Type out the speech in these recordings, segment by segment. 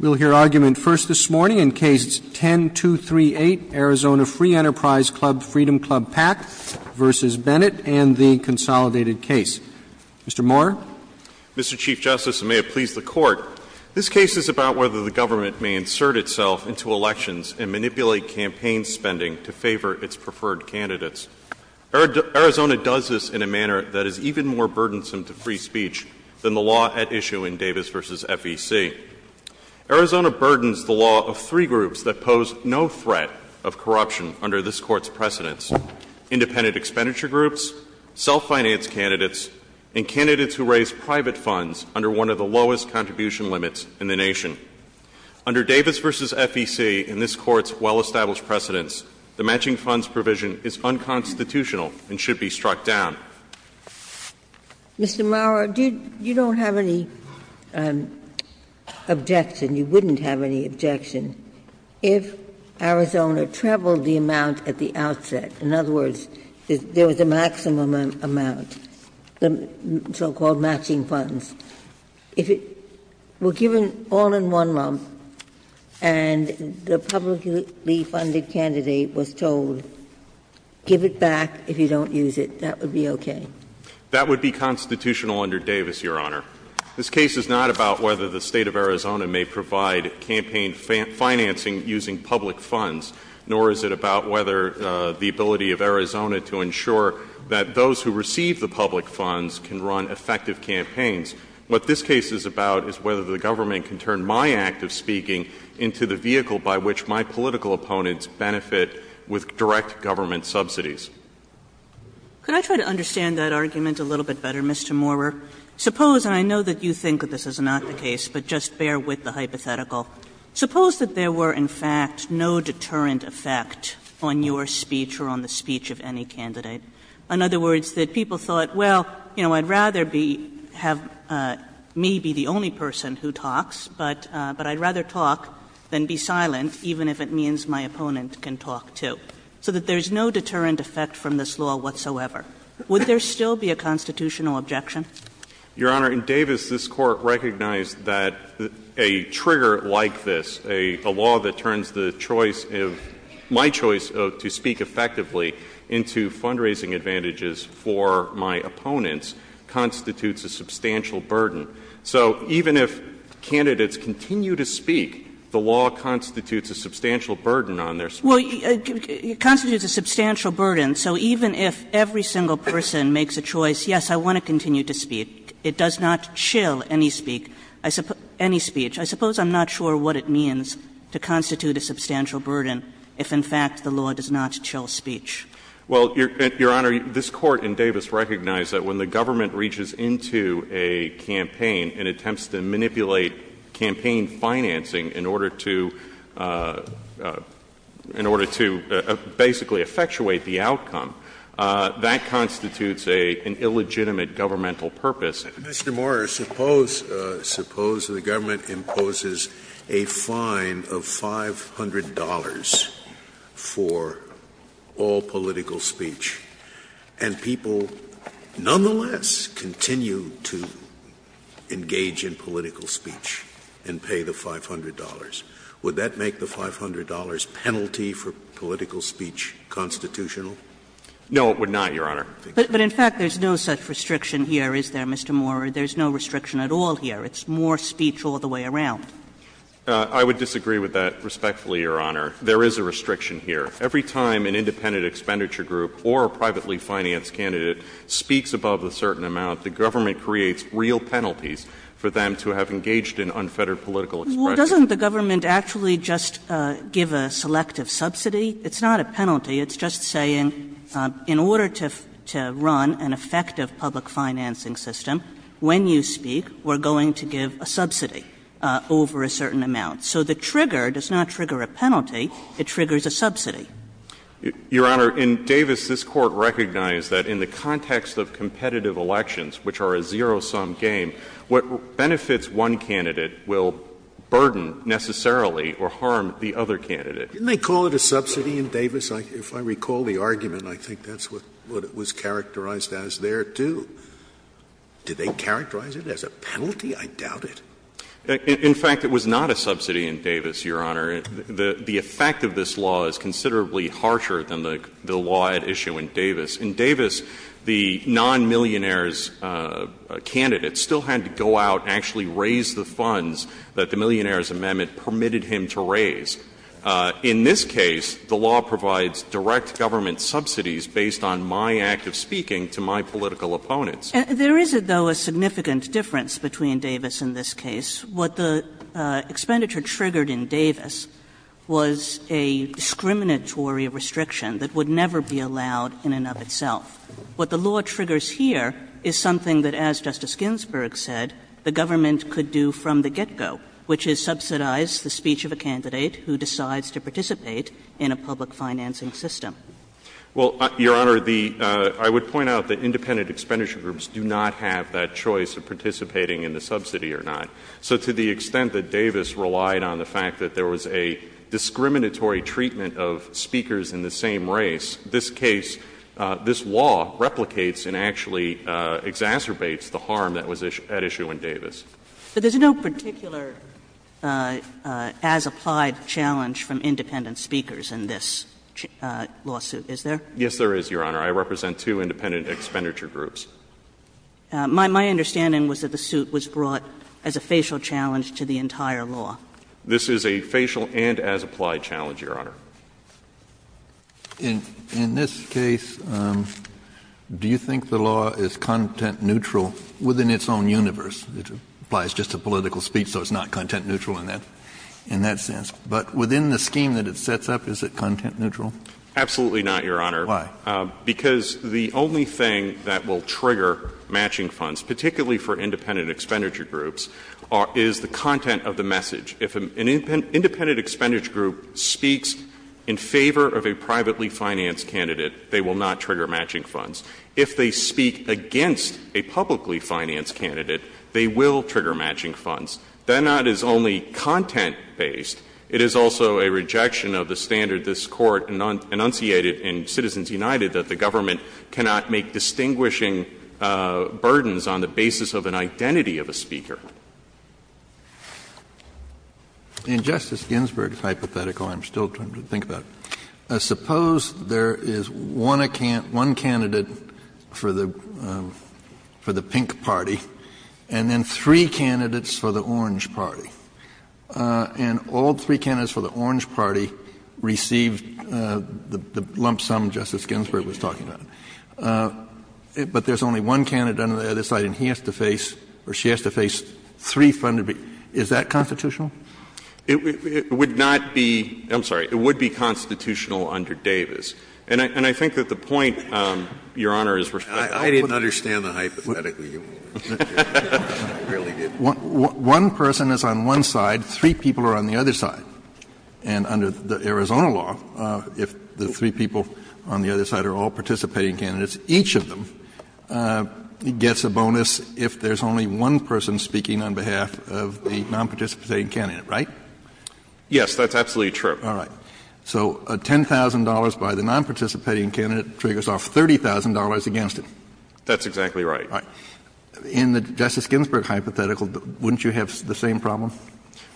We'll hear argument first this morning in Cases 10-238, Arizona Free Enterprise Club Freedom Club Pac v. Bennett and the consolidated case. Mr. Moore. Mr. Chief Justice, and may it please the Court, this case is about whether the government may insert itself into elections and manipulate campaign spending to favor its preferred candidates. Arizona does this in a manner that is even more burdensome to free speech than the law at issue in Davis v. FEC. Arizona burdens the law of three groups that pose no threat of corruption under this Court's precedence, independent expenditure groups, self-financed candidates, and candidates who raise private funds under one of the lowest contribution limits in the nation. Under Davis v. FEC and this Court's well-established precedence, the matching funds provision is unconstitutional and should be struck down. Mr. Moore, you don't have any objection, you wouldn't have any objection, if Arizona trebled the amount at the outset. In other words, there was a maximum amount, the so-called matching funds. If it were given all in one lump and the publicly funded candidate was told, give it back if you don't use it, that would be okay? That would be constitutional under Davis, Your Honor. This case is not about whether the State of Arizona may provide campaign financing using public funds, nor is it about whether the ability of Arizona to ensure that those who receive the public funds can run effective campaigns. What this case is about is whether the government can turn my act of speaking into the vehicle by which my political opponents benefit with direct government subsidies. Kagan Could I try to understand that argument a little bit better, Mr. Moore? Suppose, and I know that you think that this is not the case, but just bear with the hypothetical. Suppose that there were, in fact, no deterrent effect on your speech or on the speech of any candidate. In other words, that people thought, well, you know, I'd rather be have me be the only person who talks, but I'd rather talk than be silent, even if it means my opponent can talk, too. So that there is no deterrent effect from this law whatsoever. Would there still be a constitutional objection? Your Honor, in Davis, this Court recognized that a trigger like this, a law that turns the choice of my choice to speak effectively into fundraising advantages for my opponents constitutes a substantial burden. So even if candidates continue to speak, the law constitutes a substantial burden on their speech. Kagan Well, it constitutes a substantial burden. So even if every single person makes a choice, yes, I want to continue to speak, it does not chill any speech. I suppose I'm not sure what it means to constitute a substantial burden if, in fact, the law does not chill speech. Well, Your Honor, this Court in Davis recognized that when the government reaches into a campaign and attempts to manipulate campaign financing in order to — in order to basically effectuate the outcome, that constitutes a — an illegitimate governmental purpose. Scalia Mr. Moorer, suppose — suppose the government imposes a fine of $500 for all candidates to continue to engage in political speech and pay the $500. Would that make the $500 penalty for political speech constitutional? Moorer No, it would not, Your Honor. Kagan But in fact, there's no such restriction here, is there, Mr. Moorer? There's no restriction at all here. It's more speech all the way around. Moorer I would disagree with that respectfully, Your Honor. There is a restriction here. Every time an independent expenditure group or a privately financed candidate speaks above a certain amount, the government creates real penalties for them to have engaged in unfettered political expression. Kagan Well, doesn't the government actually just give a selective subsidy? It's not a penalty. It's just saying, in order to — to run an effective public financing system, when you speak, we're going to give a subsidy over a certain amount. So the trigger does not trigger a penalty, it triggers a subsidy. Moorer Your Honor, in Davis, this Court recognized that in the context of competitive elections, which are a zero-sum game, what benefits one candidate will burden necessarily or harm the other candidate. Scalia Didn't they call it a subsidy in Davis? If I recall the argument, I think that's what it was characterized as there, too. Did they characterize it as a penalty? I doubt it. Moorer In fact, it was not a subsidy in Davis, Your Honor. The effect of this law is considerably harsher than the law at issue in Davis. In Davis, the non-millionaire's candidate still had to go out and actually raise the funds that the Millionaire's Amendment permitted him to raise. In this case, the law provides direct government subsidies based on my act of speaking to my political opponents. Kagan There is, though, a significant difference between Davis and this case. What the expenditure triggered in Davis was a discriminatory restriction that would never be allowed in and of itself. What the law triggers here is something that, as Justice Ginsburg said, the government could do from the get-go, which is subsidize the speech of a candidate who decides to participate in a public financing system. Moorer Well, Your Honor, the — I would point out that independent expenditure groups do not have that choice of participating in the subsidy or not. So to the extent that Davis relied on the fact that there was a discriminatory treatment of speakers in the same race, this case, this law replicates and actually exacerbates the harm that was at issue in Davis. Kagan But there's no particular as-applied challenge from independent speakers in this lawsuit, is there? Moorer Yes, there is, Your Honor. I represent two independent expenditure groups. Kagan My understanding was that the suit was brought as a facial challenge to the entire law. Moorer This is a facial and as-applied challenge, Your Honor. Kennedy In this case, do you think the law is content-neutral within its own universe? It applies just to political speech, so it's not content-neutral in that sense. But within the scheme that it sets up, is it content-neutral? Moorer Absolutely not, Your Honor. Kennedy Why? Moorer Because the content of the message that will trigger matching funds, particularly for independent expenditure groups, is the content of the message. If an independent expenditure group speaks in favor of a privately financed candidate, they will not trigger matching funds. If they speak against a publicly financed candidate, they will trigger matching funds. That is not only content-based, it is also a rejection of the standard this Court has enunciated in Citizens United that the government cannot make distinguishing burdens on the basis of an identity of a speaker. Kennedy In Justice Ginsburg's hypothetical, I'm still trying to think about it. Suppose there is one candidate for the pink party and then three candidates for the lump sum Justice Ginsburg was talking about, but there is only one candidate on the other side and he has to face, or she has to face, three funded people. Is that constitutional? Moorer It would not be — I'm sorry. It would be constitutional under Davis. And I think that the point, Your Honor, is respectfully— Scalia I didn't understand the hypothetical, Your Honor. I really didn't. Moorer One person is on one side, three people are on the other side. And under the Arizona law, if the three people on the other side are all participating candidates, each of them gets a bonus if there is only one person speaking on behalf of the nonparticipating candidate, right? Kennedy Yes, that's absolutely true. Moorer All right. So $10,000 by the nonparticipating candidate triggers off $30,000 against him. Kennedy That's exactly right. Moorer All right. In the Justice Ginsburg hypothetical, wouldn't you have the same problem?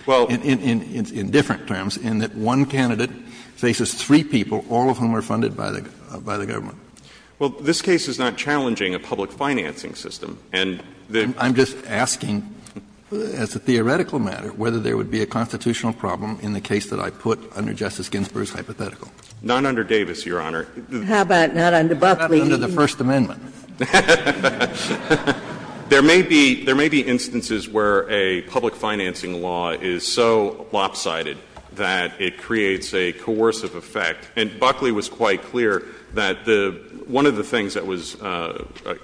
In different terms, in that one candidate faces three people, all of whom are funded by the government. Moorer Well, this case is not challenging a public financing system. And the— Kennedy I'm just asking, as a theoretical matter, whether there would be a constitutional problem in the case that I put under Justice Ginsburg's hypothetical. Moorer Not under Davis, Your Honor. Ginsburg How about not under Buckley? Kennedy Not under the First Amendment. There may be instances where a public financing law is so lopsided that it creates a coercive effect, and Buckley was quite clear that one of the things that was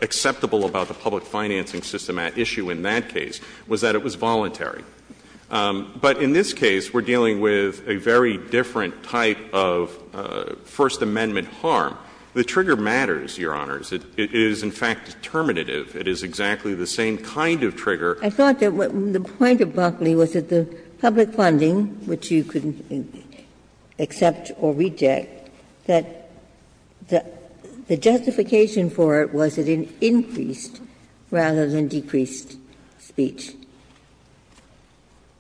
acceptable about the public financing system at issue in that case was that it was voluntary. But in this case, we're dealing with a very different type of First Amendment harm. The trigger matters, Your Honors. It is, in fact, determinative. It is exactly the same kind of trigger. Ginsburg I thought that the point of Buckley was that the public funding, which you could accept or reject, that the justification for it was that it increased rather than decreased speech.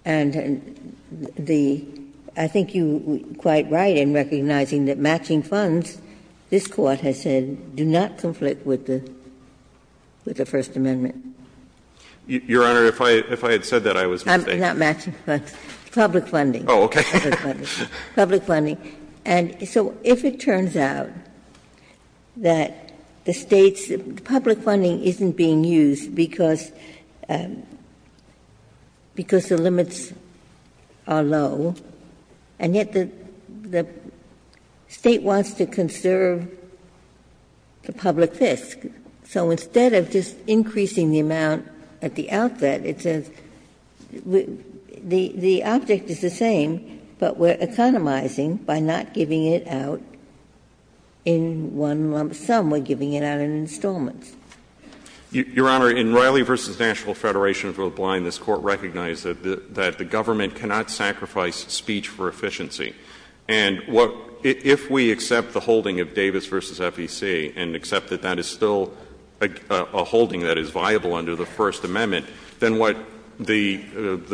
And the — I think you're quite right in recognizing that matching funds, this Court has said, do not conflict with the First Amendment. Kennedy Your Honor, if I had said that, I was mistaken. Ginsburg I'm not matching funds. Public funding. Kennedy Oh, okay. Ginsburg Public funding. And so if it turns out that the State's public funding isn't being used because the limits are low, and yet the State wants to conserve the public fisc. So instead of just increasing the amount at the outset, it says the object is the same, but we're economizing by not giving it out in one lump sum. We're giving it out in installments. Roberts Your Honor, in Riley v. National Federation of the Blind, this Court recognized that the government cannot sacrifice speech for efficiency. And if we accept the holding of Davis v. FEC and accept that that is still a holding that is viable under the First Amendment, then what the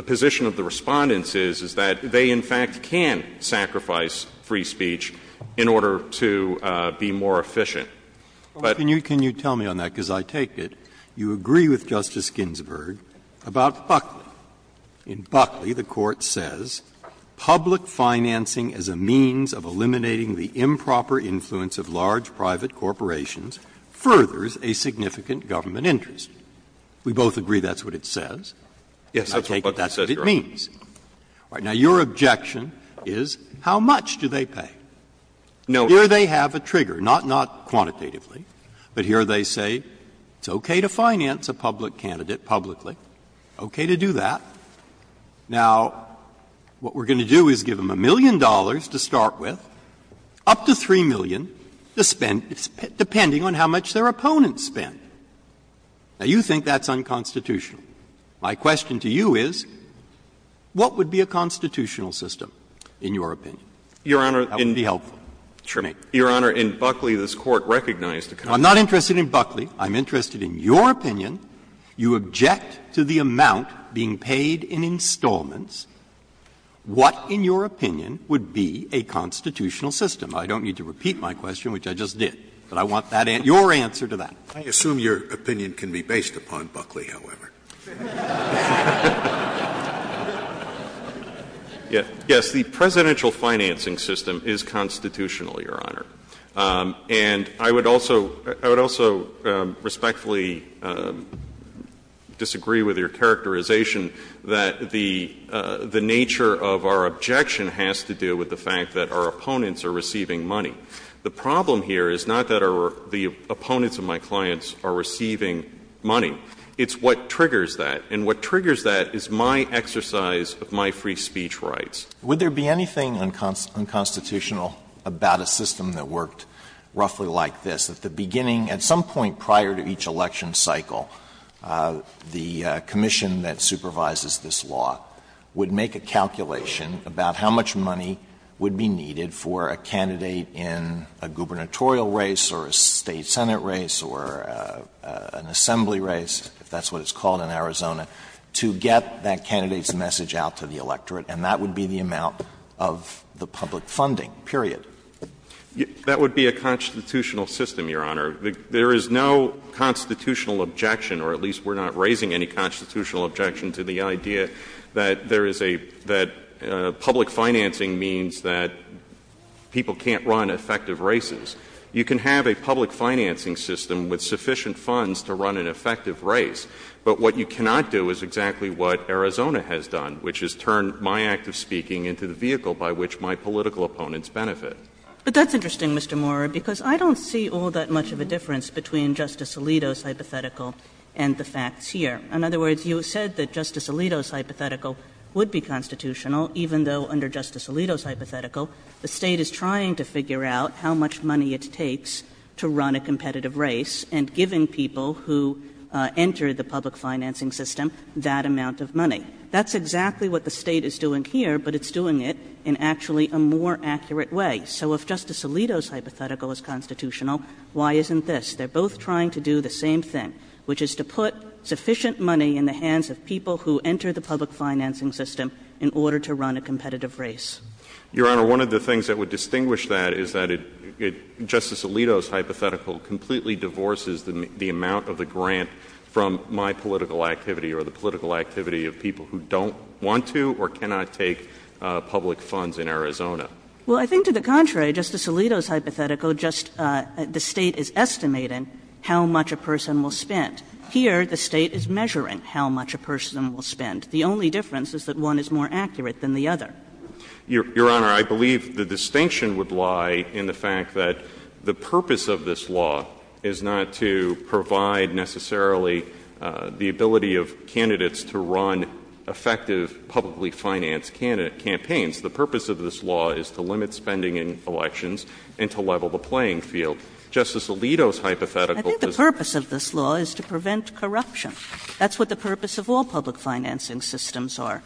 position of the Respondents is, is that they, in fact, can sacrifice free speech in order to be more efficient. But Breyer Can you tell me on that, because I take it you agree with Justice Ginsburg about Buckley. In Buckley, the Court says, ''Public financing as a means of eliminating the improper influence of large private corporations furthers a significant government interest.'' We both agree that's what it says. I take it that's what it means. Now, your objection is how much do they pay? Do they have a trigger? Not quantitatively, but here they say it's okay to finance a public candidate publicly, okay to do that. Now, what we're going to do is give them $1 million to start with, up to $3 million to spend, depending on how much their opponents spend. Now, you think that's unconstitutional. My question to you is, what would be a constitutional system, in your opinion? That would be helpful. Your Honor, in Buckley, this Court recognized a constitutional system. Breyer I'm not interested in Buckley. I'm interested in your opinion. You object to the amount being paid in installments. What, in your opinion, would be a constitutional system? I don't need to repeat my question, which I just did, but I want your answer to that. Scalia I assume your opinion can be based upon Buckley, however. Yes, the presidential financing system is constitutional, Your Honor, and I would also respectfully disagree with your characterization that the nature of our objection has to do with the fact that our opponents are receiving money. The problem here is not that the opponents of my clients are receiving money. It's what triggers that, and what triggers that is my exercise of my free speech rights. Alito Would there be anything unconstitutional about a system that worked roughly like this, that the beginning, at some point prior to each election cycle, the commission that supervises this law would make a calculation about how much money would be needed for a candidate in a gubernatorial race or a State Senate race or an assembly race, if that's what it's called in Arizona, to get that candidate's message out to the electorate, and that would be the amount of the public funding, period. That would be a constitutional system, Your Honor. There is no constitutional objection, or at least we're not raising any constitutional objection to the idea that there is a — that public financing means that people can't run effective races. You can have a public financing system with sufficient funds to run an effective race, but what you cannot do is exactly what Arizona has done, which is turn my act of speaking into the vehicle by which my political opponents benefit. Kagan But that's interesting, Mr. Moorer, because I don't see all that much of a difference between Justice Alito's hypothetical and the facts here. In other words, you said that Justice Alito's hypothetical would be constitutional, even though under Justice Alito's hypothetical, the State is trying to figure out how much money it takes to run a competitive race, and giving people who enter the public financing system that amount of money. That's exactly what the State is doing here, but it's doing it in actually a more accurate way. So if Justice Alito's hypothetical is constitutional, why isn't this? They're both trying to do the same thing, which is to put sufficient money in the hands of people who enter the public financing system in order to run a competitive race. Your Honor, one of the things that would distinguish that is that it — Justice Alito's hypothetical completely divorces the amount of the grant from my political activity or the political activity of people who don't want to or cannot take public funds in Arizona. Well, I think to the contrary, Justice Alito's hypothetical, just the State is estimating how much a person will spend. Here, the State is measuring how much a person will spend. The only difference is that one is more accurate than the other. Your Honor, I believe the distinction would lie in the fact that the purpose of this law is not to provide necessarily the ability of candidates to run effective publicly financed campaigns. The purpose of this law is to limit spending in elections and to level the playing field. Justice Alito's hypothetical does not. I think the purpose of this law is to prevent corruption. That's what the purpose of all public financing systems are.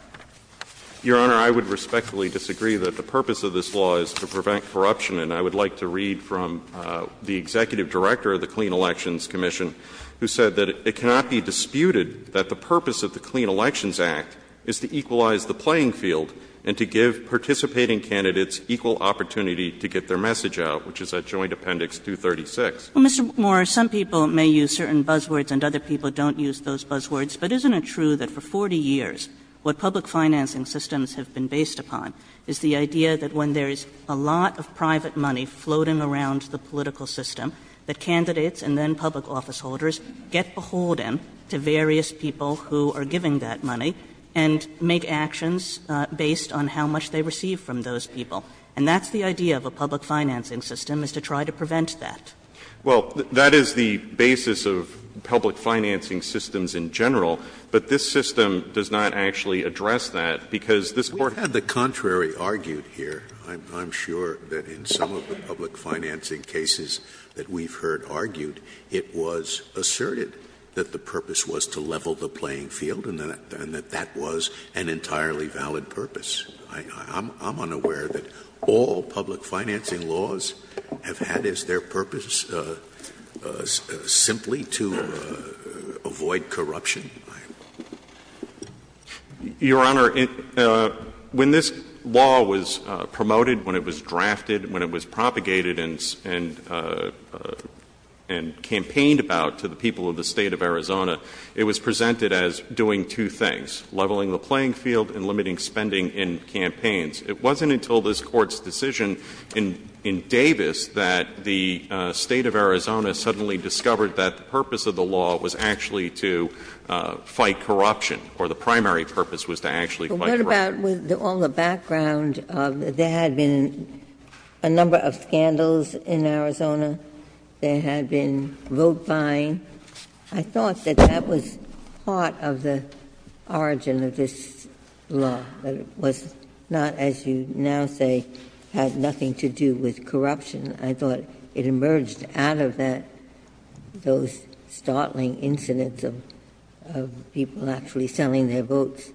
Your Honor, I would respectfully disagree that the purpose of this law is to prevent corruption. And I would like to read from the executive director of the Clean Elections Commission, who said that it cannot be disputed that the purpose of the Clean Elections Act is to equalize the playing field and to give participating candidates equal opportunity to get their message out, which is at Joint Appendix 236. Well, Mr. Moore, some people may use certain buzzwords and other people don't use those public financing systems have been based upon is the idea that when there is a lot of private money floating around the political system, that candidates and then public officeholders get beholden to various people who are giving that money and make actions based on how much they receive from those people. And that's the idea of a public financing system, is to try to prevent that. Well, that is the basis of public financing systems in general, but this system does not actually address that, because this Court has said that there is a lot of private money floating around the political system. Scalia, I'm sure that in some of the public financing cases that we've heard argued, it was asserted that the purpose was to level the playing field and that that was an entirely valid purpose. I'm unaware that all public financing laws have had as their purpose simply to avoid corruption. Your Honor, when this law was promoted, when it was drafted, when it was propagated and campaigned about to the people of the State of Arizona, it was presented as doing two things, leveling the playing field and limiting spending in campaigns. It wasn't until this Court's decision in Davis that the State of Arizona suddenly discovered that the purpose of the law was actually to fight corruption, or the primary purpose was to actually fight corruption. But what about on the background of there had been a number of scandals in Arizona? There had been vote-buying. I thought that that was part of the origin of this law, that it was not, as you now say, had nothing to do with corruption. I thought it emerged out of that, those startling incidents of people actually selling their votes.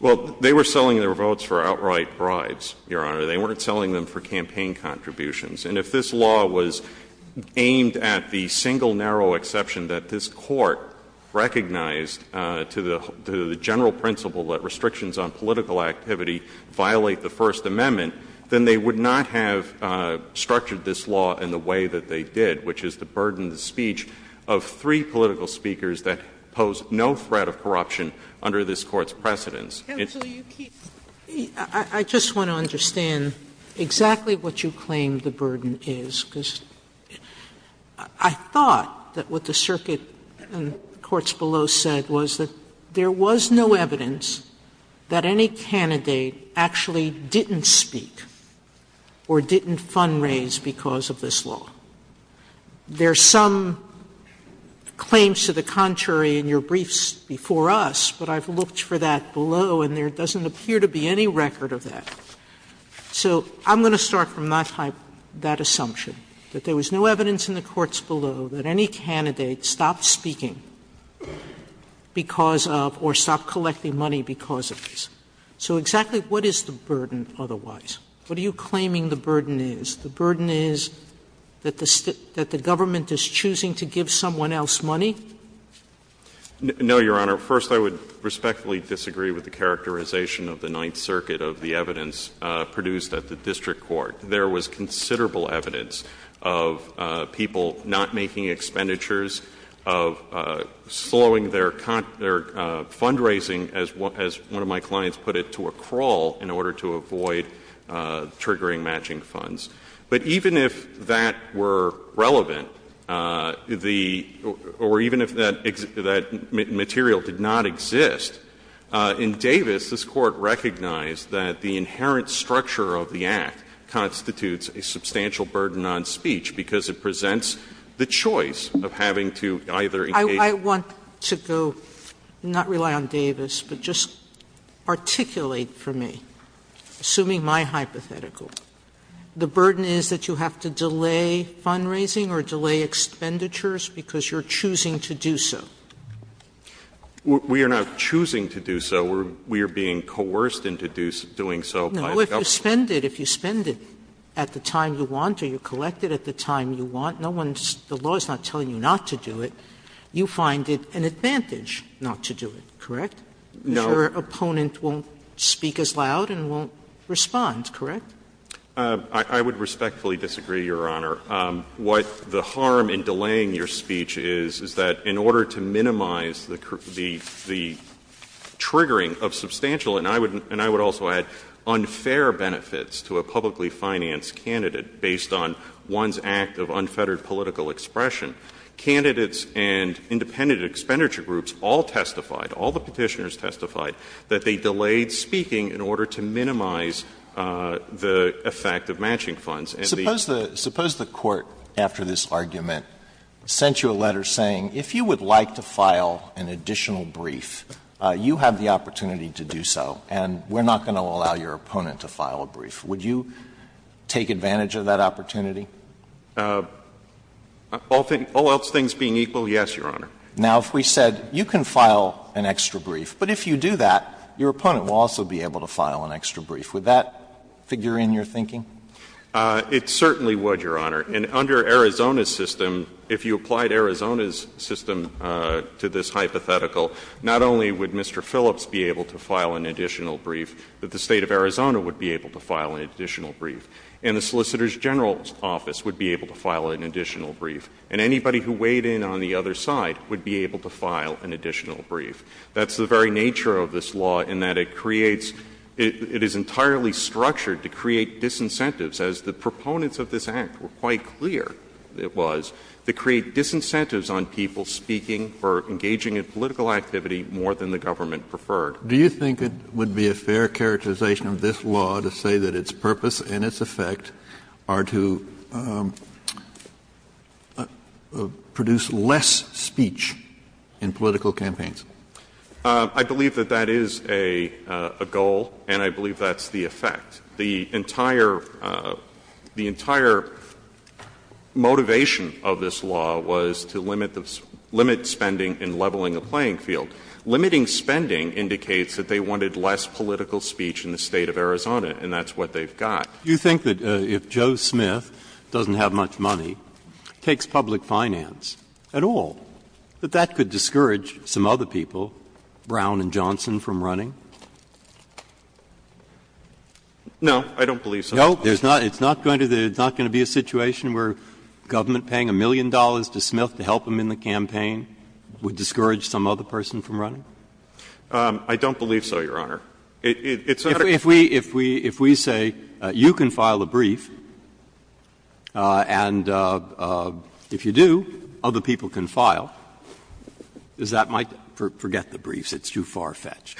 Well, they were selling their votes for outright bribes, Your Honor. They weren't selling them for campaign contributions. And if this law was aimed at the single narrow exception that this Court recognized to the general principle that restrictions on political activity violate the First Amendment, then they would not have structured this law in the way that they did, which is to burden the speech of three political speakers that pose no threat of corruption under this Court's precedents. Sotomayor, I just want to understand exactly what you claim the burden is, because I thought that what the circuit and the courts below said was that there was no evidence that any candidate actually didn't speak or didn't fundraise because of this law. There are some claims to the contrary in your briefs before us, but I've looked for that below, and there doesn't appear to be any record of that. So I'm going to start from that assumption, that there was no evidence in the courts below that any candidate stopped speaking because of or stopped collecting money because of this. So exactly what is the burden otherwise? What are you claiming the burden is? The burden is that the government is choosing to give someone else money? No, Your Honor. First, I would respectfully disagree with the characterization of the Ninth Circuit of the evidence produced at the district court. There was considerable evidence of people not making expenditures, of slowing their fundraising, as one of my clients put it, to a crawl in order to avoid triggering matching funds. But even if that were relevant, the or even if that material did not exist, in Davis this Court recognized that the inherent structure of the act constitutes a substantial burden on speech because it presents the choice of having to either engage in a I want to go, not rely on Davis, but just articulate for me, assuming my hypothetical, the burden is that you have to delay fundraising or delay expenditures because you're choosing to do so. We are not choosing to do so. We are being coerced into doing so by the government. No, if you spend it, if you spend it at the time you want or you collect it at the time you want, no one's the law is not telling you not to do it. You find it an advantage not to do it, correct? No. Because your opponent won't speak as loud and won't respond, correct? I would respectfully disagree, Your Honor. What the harm in delaying your speech is, is that in order to minimize the triggering of substantial, and I would also add unfair benefits to a publicly financed candidate based on one's act of unfettered political expression, candidates and independent expenditure groups all testified, all the Petitioners testified, that they delayed speaking in order to minimize the effect of matching funds. And the other thing is that the law is not telling you not to do it. Suppose the Court, after this argument, sent you a letter saying, if you would like to file an additional brief, you have the opportunity to do so, and we're not going to allow your opponent to file a brief. Would you take advantage of that opportunity? All else things being equal, yes, Your Honor. Now, if we said you can file an extra brief, but if you do that, your opponent will also be able to file an extra brief, would that figure in your thinking? It certainly would, Your Honor. And under Arizona's system, if you applied Arizona's system to this hypothetical, not only would Mr. Phillips be able to file an additional brief, but the State of Arizona would be able to file an additional brief, and the Solicitor General's office would be able to file an additional brief, and anybody who weighed in on the other side would be able to file an additional brief. That's the very nature of this law in that it creates — it is entirely structured to create disincentives, as the proponents of this Act were quite clear it was, to create disincentives on people speaking for engaging in political activity more than the government preferred. Kennedy. Do you think it would be a fair characterization of this law to say that its purpose and its effect are to produce less speech in political campaigns? I believe that that is a goal, and I believe that's the effect. The entire — the entire motivation of this law was to limit the — limit spending and leveling the playing field. Limiting spending indicates that they wanted less political speech in the State of Arizona, and that's what they've got. Do you think that if Joe Smith doesn't have much money, takes public finance at all, that that could discourage some other people, Brown and Johnson, from running? No, I don't believe so. No? There's not — it's not going to be a situation where government paying a million dollars to Smith to help him in the campaign would discourage some other person from running? It's not a — If we say you can file a brief, and if you do, other people can file, is that my — forget the briefs, it's too far-fetched.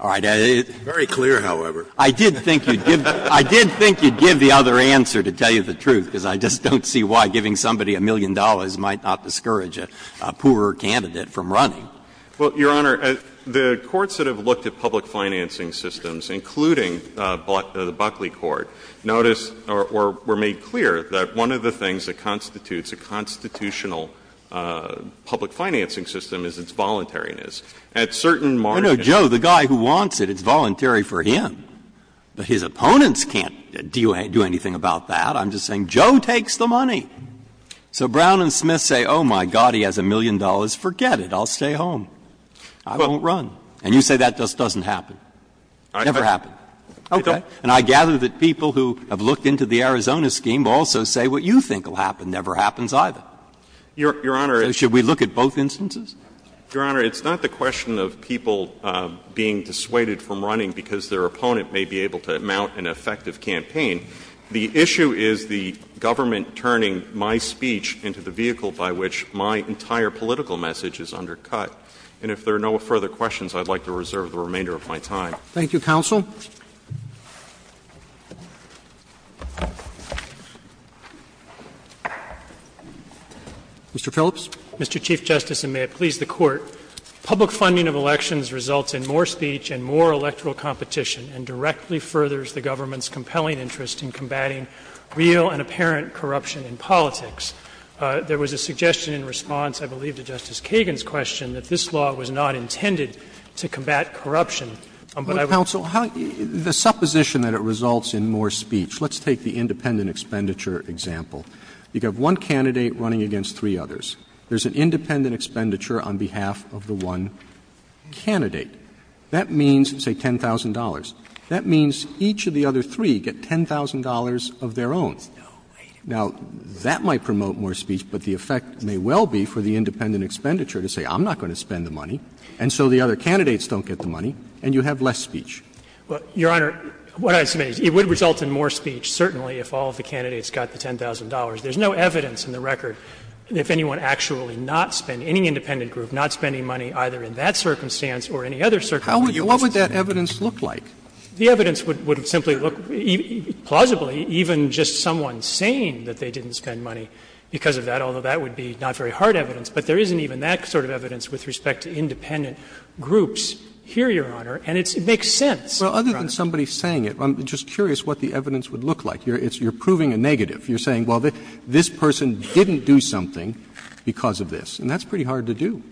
All right. Very clear, however. I did think you'd give the other answer, to tell you the truth, because I just don't see why giving somebody a million dollars might not discourage a poorer candidate from running. Well, Your Honor, the courts that have looked at public financing systems, including the Buckley Court, notice — or were made clear that one of the things that constitutes a constitutional public financing system is its voluntariness. At certain markets — I know Joe, the guy who wants it, it's voluntary for him. But his opponents can't do anything about that. I'm just saying Joe takes the money. So Brown and Smith say, oh, my God, he has a million dollars, forget it, I'll stay at home, I won't run. And you say that just doesn't happen. Never happened. Okay. And I gather that people who have looked into the Arizona scheme also say what you think will happen never happens either. Your Honor, it's not the question of people being dissuaded from running because their opponent may be able to mount an effective campaign. The issue is the government turning my speech into the vehicle by which my entire political message is undercut. And if there are no further questions, I'd like to reserve the remainder of my time. Thank you, counsel. Mr. Phillips. Mr. Chief Justice, and may it please the Court, public funding of elections results in more speech and more electoral competition and directly furthers the government's compelling interest in combating real and apparent corruption in politics. There was a suggestion in response, I believe, to Justice Kagan's question that this law was not intended to combat corruption. But I would say that this law is not intended to combat corruption in politics. Roberts, the supposition that it results in more speech, let's take the independent expenditure example. You have one candidate running against three others. There is an independent expenditure on behalf of the one candidate. That means, say, $10,000. That means each of the other three get $10,000 of their own. Now, that might promote more speech, but the effect may well be for the independent expenditure to say, I'm not going to spend the money, and so the other candidates don't get the money, and you have less speech. Well, Your Honor, what I submit is it would result in more speech, certainly, if all of the candidates got the $10,000. There is no evidence in the record that if anyone actually not spent, any independent group not spending money either in that circumstance or any other circumstance would lose it. What would that evidence look like? The evidence would simply look, plausibly, even just someone saying that they didn't spend money because of that, although that would be not very hard evidence. But there isn't even that sort of evidence with respect to independent groups here, Your Honor, and it makes sense. Well, other than somebody saying it, I'm just curious what the evidence would look like. You're proving a negative. You're saying, well, this person didn't do something because of this, and that's pretty hard to do.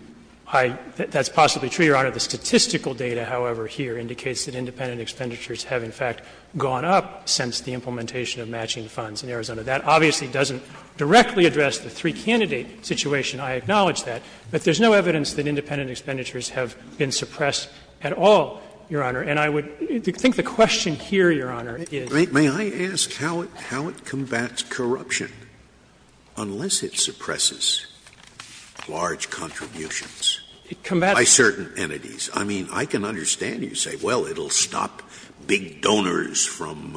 That's possibly true, Your Honor. The statistical data, however, here indicates that independent expenditures have, in fact, gone up since the implementation of matching funds in Arizona. That obviously doesn't directly address the three-candidate situation. I acknowledge that. But there's no evidence that independent expenditures have been suppressed at all, Your Honor. And I would think the question here, Your Honor, is. Scalia, may I ask how it combats corruption, unless it suppresses large contributions by certain entities? I mean, I can understand you say, well, it will stop big donors from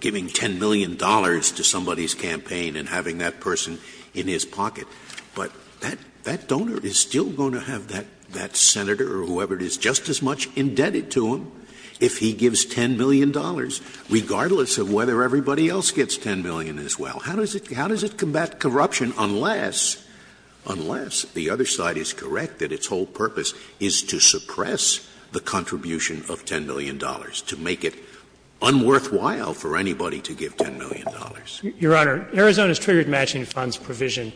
giving $10 million to somebody's campaign and having that person in his pocket. But that donor is still going to have that senator or whoever it is just as much indebted to him if he gives $10 million, regardless of whether everybody else gets $10 million as well. How does it combat corruption unless, unless the other side is correct that its whole purpose is to suppress the contribution of $10 million, to make it unworthwhile for anybody to give $10 million? Your Honor, Arizona's triggered matching funds provision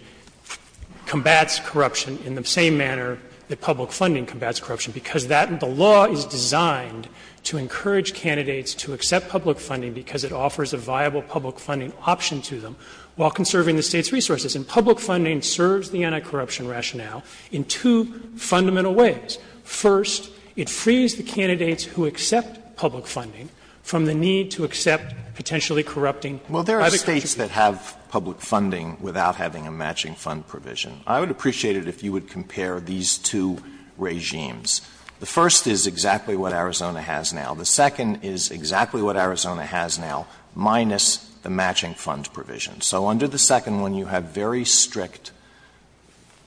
combats corruption in the same manner that public funding combats corruption, because that the law is designed to encourage candidates to accept public funding because it offers a viable public funding option to them while conserving the State's resources. And public funding serves the anti-corruption rationale in two fundamental ways. First, it frees the candidates who accept public funding from the need to accept potentially corrupting by the country. Alito, well, there are States that have public funding without having a matching fund provision. I would appreciate it if you would compare these two regimes. The first is exactly what Arizona has now. The second is exactly what Arizona has now, minus the matching fund provision. So under the second one, you have very strict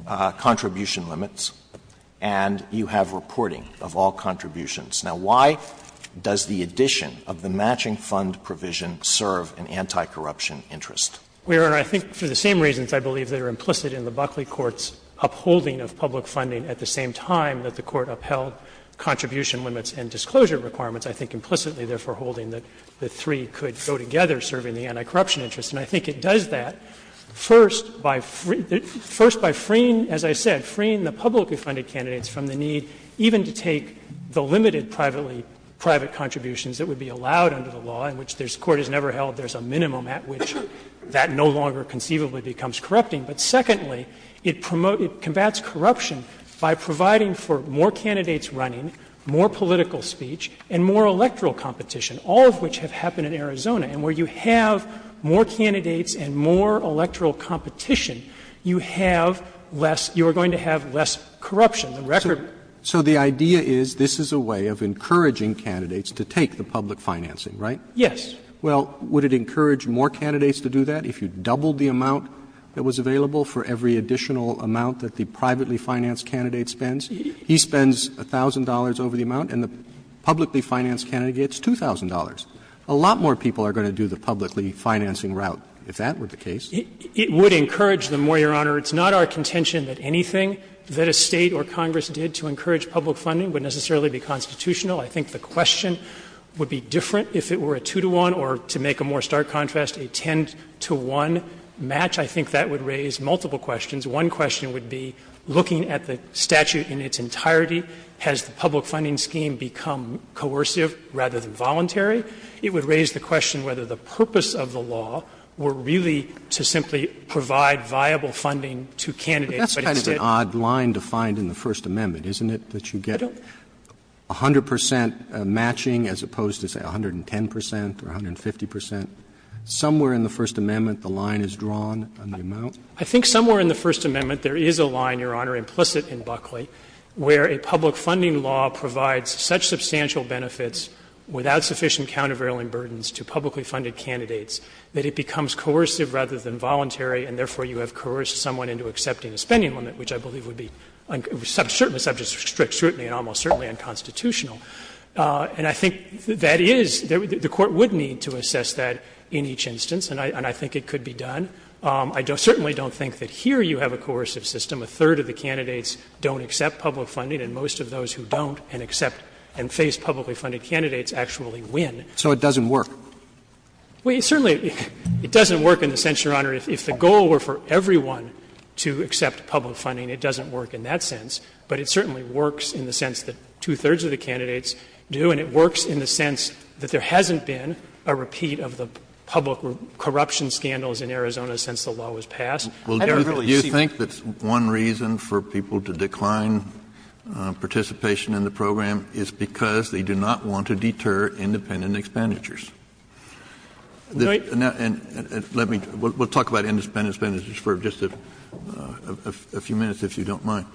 contribution limits and you have reporting of all contributions. Now, why does the addition of the matching fund provision serve an anti-corruption interest? We are, I think, for the same reasons, I believe, that are implicit in the Buckley Court's upholding of public funding at the same time that the Court upheld contribution limits and disclosure requirements, I think implicitly, therefore, holding that the three could go together serving the anti-corruption interest. And I think it does that, first, by freeing, as I said, freeing the publicly funded candidates from the need even to take the limited private contributions that would be allowed under the law, in which this Court has never held there is a minimum at which that no longer conceivably becomes corrupting, but secondly, it combats corruption by providing for more candidates running, more political speech, and more electoral competition, all of which have happened in Arizona. And where you have more candidates and more electoral competition, you have less you are going to have less corruption. The record. Roberts. So the idea is this is a way of encouraging candidates to take the public financing, right? Yes. Well, would it encourage more candidates to do that if you doubled the amount that was available for every additional amount that the privately financed candidate spends? He spends $1,000 over the amount and the publicly financed candidate gets $2,000. A lot more people are going to do the publicly financing route. If that were the case. It would encourage them more, Your Honor. It's not our contention that anything that a State or Congress did to encourage public funding would necessarily be constitutional. I think the question would be different if it were a 2-to-1 or, to make a more stark contrast, a 10-to-1 match. I think that would raise multiple questions. One question would be, looking at the statute in its entirety, has the public funding scheme become coercive rather than voluntary? It would raise the question whether the purpose of the law were really to simply provide viable funding to candidates, but instead. But that's kind of an odd line to find in the First Amendment, isn't it, that you get 100 percent matching as opposed to, say, 110 percent or 150 percent? Somewhere in the First Amendment the line is drawn on the amount. I think somewhere in the First Amendment there is a line, Your Honor, implicit in Buckley, where a public funding law provides such substantial benefits without sufficient countervailing burdens to publicly funded candidates that it becomes coercive rather than voluntary, and therefore you have coerced someone into accepting a spending limit, which I believe would be, certainly subject to strict scrutiny and almost certainly unconstitutional. And I think that is, the Court would need to assess that in each instance, and I think it could be done. I certainly don't think that here you have a coercive system. A third of the candidates don't accept public funding, and most of those who don't and accept and face publicly funded candidates actually win. So it doesn't work? Well, certainly it doesn't work in the sense, Your Honor, if the goal were for everyone to accept public funding, it doesn't work in that sense. But it certainly works in the sense that two-thirds of the candidates do, and it works in the sense that there hasn't been a repeat of the public corruption scandals in Arizona since the law was passed. Kennedy, you think that one reason for people to decline participation in the program is because they do not want to deter independent expenditures? And let me talk about independent expenditures for just a few minutes, if you don't mind.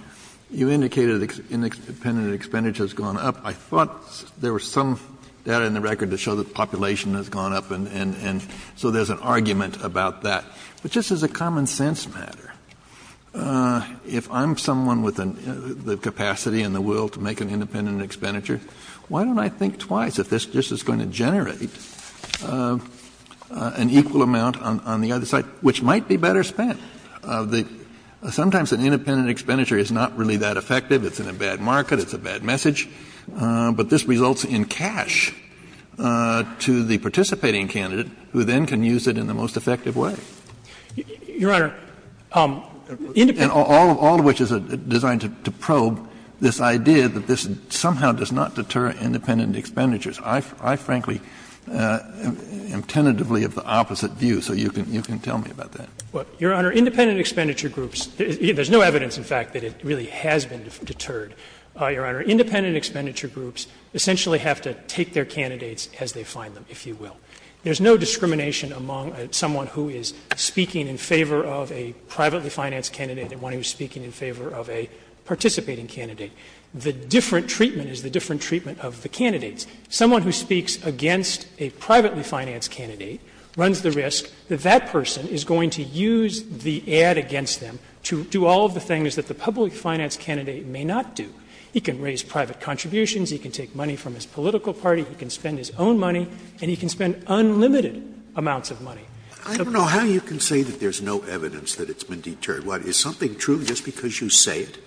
You indicated independent expenditure has gone up. I thought there was some data in the record to show that population has gone up, and so there's an argument about that. But just as a common sense matter, if I'm someone with the capacity and the will to make an independent expenditure, why don't I think twice if this is going to generate an equal amount on the other side, which might be better spent? Sometimes an independent expenditure is not really that effective. It's in a bad market. It's a bad message. But this results in cash to the participating candidate who then can use it in the most effective way. Your Honor, independent groups Kennedy, all of which is designed to probe this idea that this somehow does not deter independent expenditures. I, frankly, am tentatively of the opposite view, so you can tell me about that. Your Honor, independent expenditure groups, there's no evidence, in fact, that it really has been deterred. Your Honor, independent expenditure groups essentially have to take their candidates as they find them, if you will. There's no discrimination among someone who is speaking in favor of a privately financed candidate and one who is speaking in favor of a participating candidate. The different treatment is the different treatment of the candidates. Someone who speaks against a privately financed candidate runs the risk that that person is going to use the ad against them to do all of the things that the public finance candidate may not do. He can raise private contributions, he can take money from his political party, he can spend his own money, and he can spend unlimited amounts of money. Scalia. I don't know how you can say that there's no evidence that it's been deterred. Is something true just because you say it?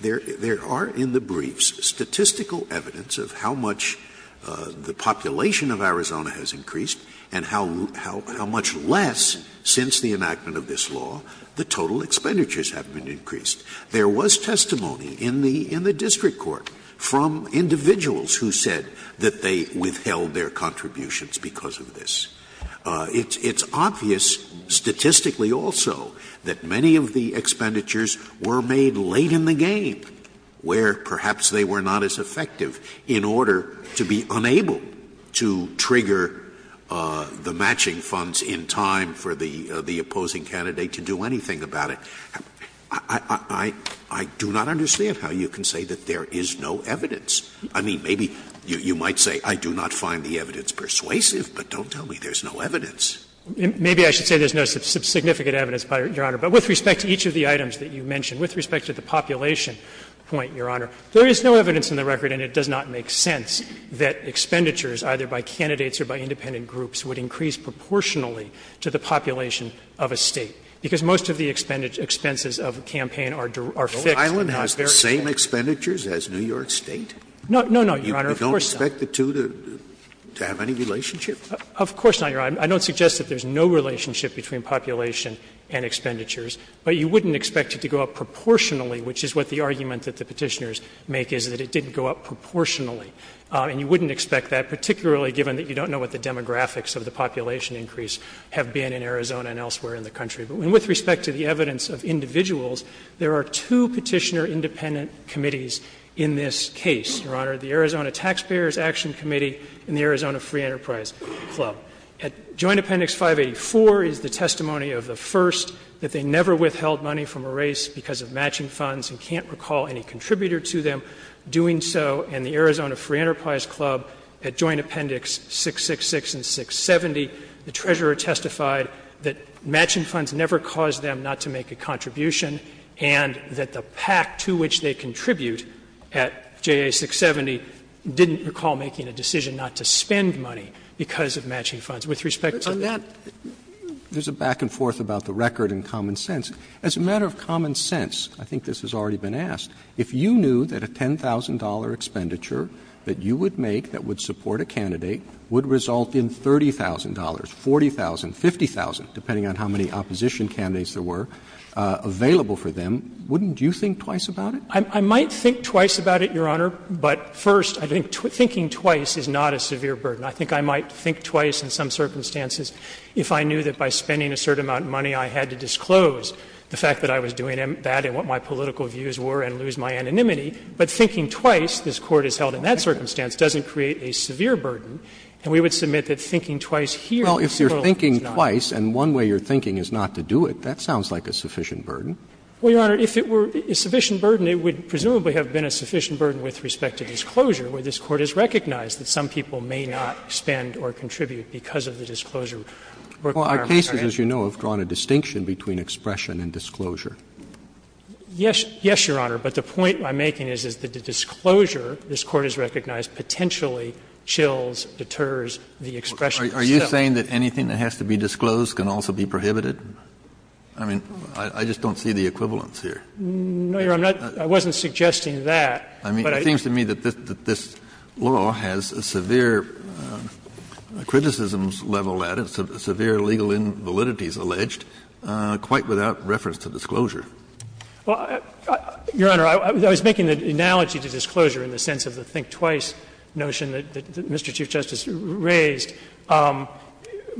There are in the briefs statistical evidence of how much the population of Arizona has increased and how much less since the enactment of this law the total expenditures have been increased. There was testimony in the district court from individuals who said that they withheld their contributions because of this. It's obvious statistically also that many of the expenditures were made late in the game, where perhaps they were not as effective, in order to be unable to trigger the matching funds in time for the opposing candidate to do anything about it. I do not understand how you can say that there is no evidence. I mean, maybe you might say I do not find the evidence persuasive, but don't tell me there's no evidence. Maybe I should say there's no significant evidence, Your Honor. But with respect to each of the items that you mentioned, with respect to the population point, Your Honor, there is no evidence in the record, and it does not make sense, that expenditures either by candidates or by independent groups would increase proportionally to the population of a State. Because most of the expenses of a campaign are fixed and not variable. Scalia O'Reilly has the same expenditures as New York State? No, no, no, Your Honor, of course not. Scalia You don't expect the two to have any relationship? Of course not, Your Honor. I don't suggest that there's no relationship between population and expenditures, but you wouldn't expect it to go up proportionally, which is what the argument that the Petitioners make is, that it didn't go up proportionally. And you wouldn't expect that, particularly given that you don't know what the demographics of the population increase have been in Arizona and elsewhere in the country. But with respect to the evidence of individuals, there are two Petitioner independent committees in this case, Your Honor, the Arizona Taxpayers Action Committee and the Arizona Free Enterprise Club. At Joint Appendix 584 is the testimony of the first, that they never withheld money from a race because of matching funds and can't recall any contributor to them doing so, and the Arizona Free Enterprise Club at Joint Appendix 666 and 670, the treasurer testified that matching funds never caused them not to make a contribution and that the PAC to which they contribute at JA 670 didn't recall making a decision not to spend money because of matching funds. With respect to that, there's a back and forth about the record and common sense. As a matter of common sense, I think this has already been asked, if you knew that a $10,000 expenditure that you would make that would support a candidate would result in $30,000, $40,000, $50,000, depending on how many opposition candidates there were, available for them, wouldn't you think twice about it? I might think twice about it, Your Honor, but first, I think thinking twice is not a severe burden. I think I might think twice in some circumstances if I knew that by spending a certain amount of money I had to disclose the fact that I was doing that and what my political views were and lose my anonymity, but thinking twice, this Court has held in that circumstance, doesn't create a severe burden, and we would submit that thinking twice here is not. Roberts Well, if you're thinking twice and one way you're thinking is not to do it, that sounds like a sufficient burden. Well, Your Honor, if it were a sufficient burden, it would presumably have been a sufficient burden with respect to disclosure, where this Court has recognized that some people may not spend or contribute because of the disclosure requirement. Well, our cases, as you know, have drawn a distinction between expression and disclosure. Yes, Your Honor, but the point I'm making is that the disclosure this Court has recognized potentially chills, deters the expression itself. Kennedy Are you saying that anything that has to be disclosed can also be prohibited? I mean, I just don't see the equivalence here. Roberts No, Your Honor, I'm not – I wasn't suggesting that, but I don't think so. Kennedy It seems to me that this law has a severe criticism level at it, severe legal invalidities alleged, quite without reference to disclosure. Roberts Well, Your Honor, I was making an analogy to disclosure in the sense of the think twice notion that Mr. Chief Justice raised.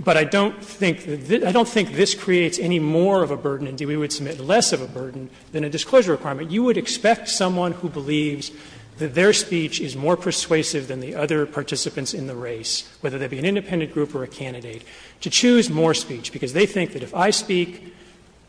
But I don't think this creates any more of a burden, and we would submit less of a burden than a disclosure requirement. You would expect someone who believes that their speech is more persuasive than the other participants in the race, whether they be an independent group or a candidate, to choose more speech, because they think that if I speak,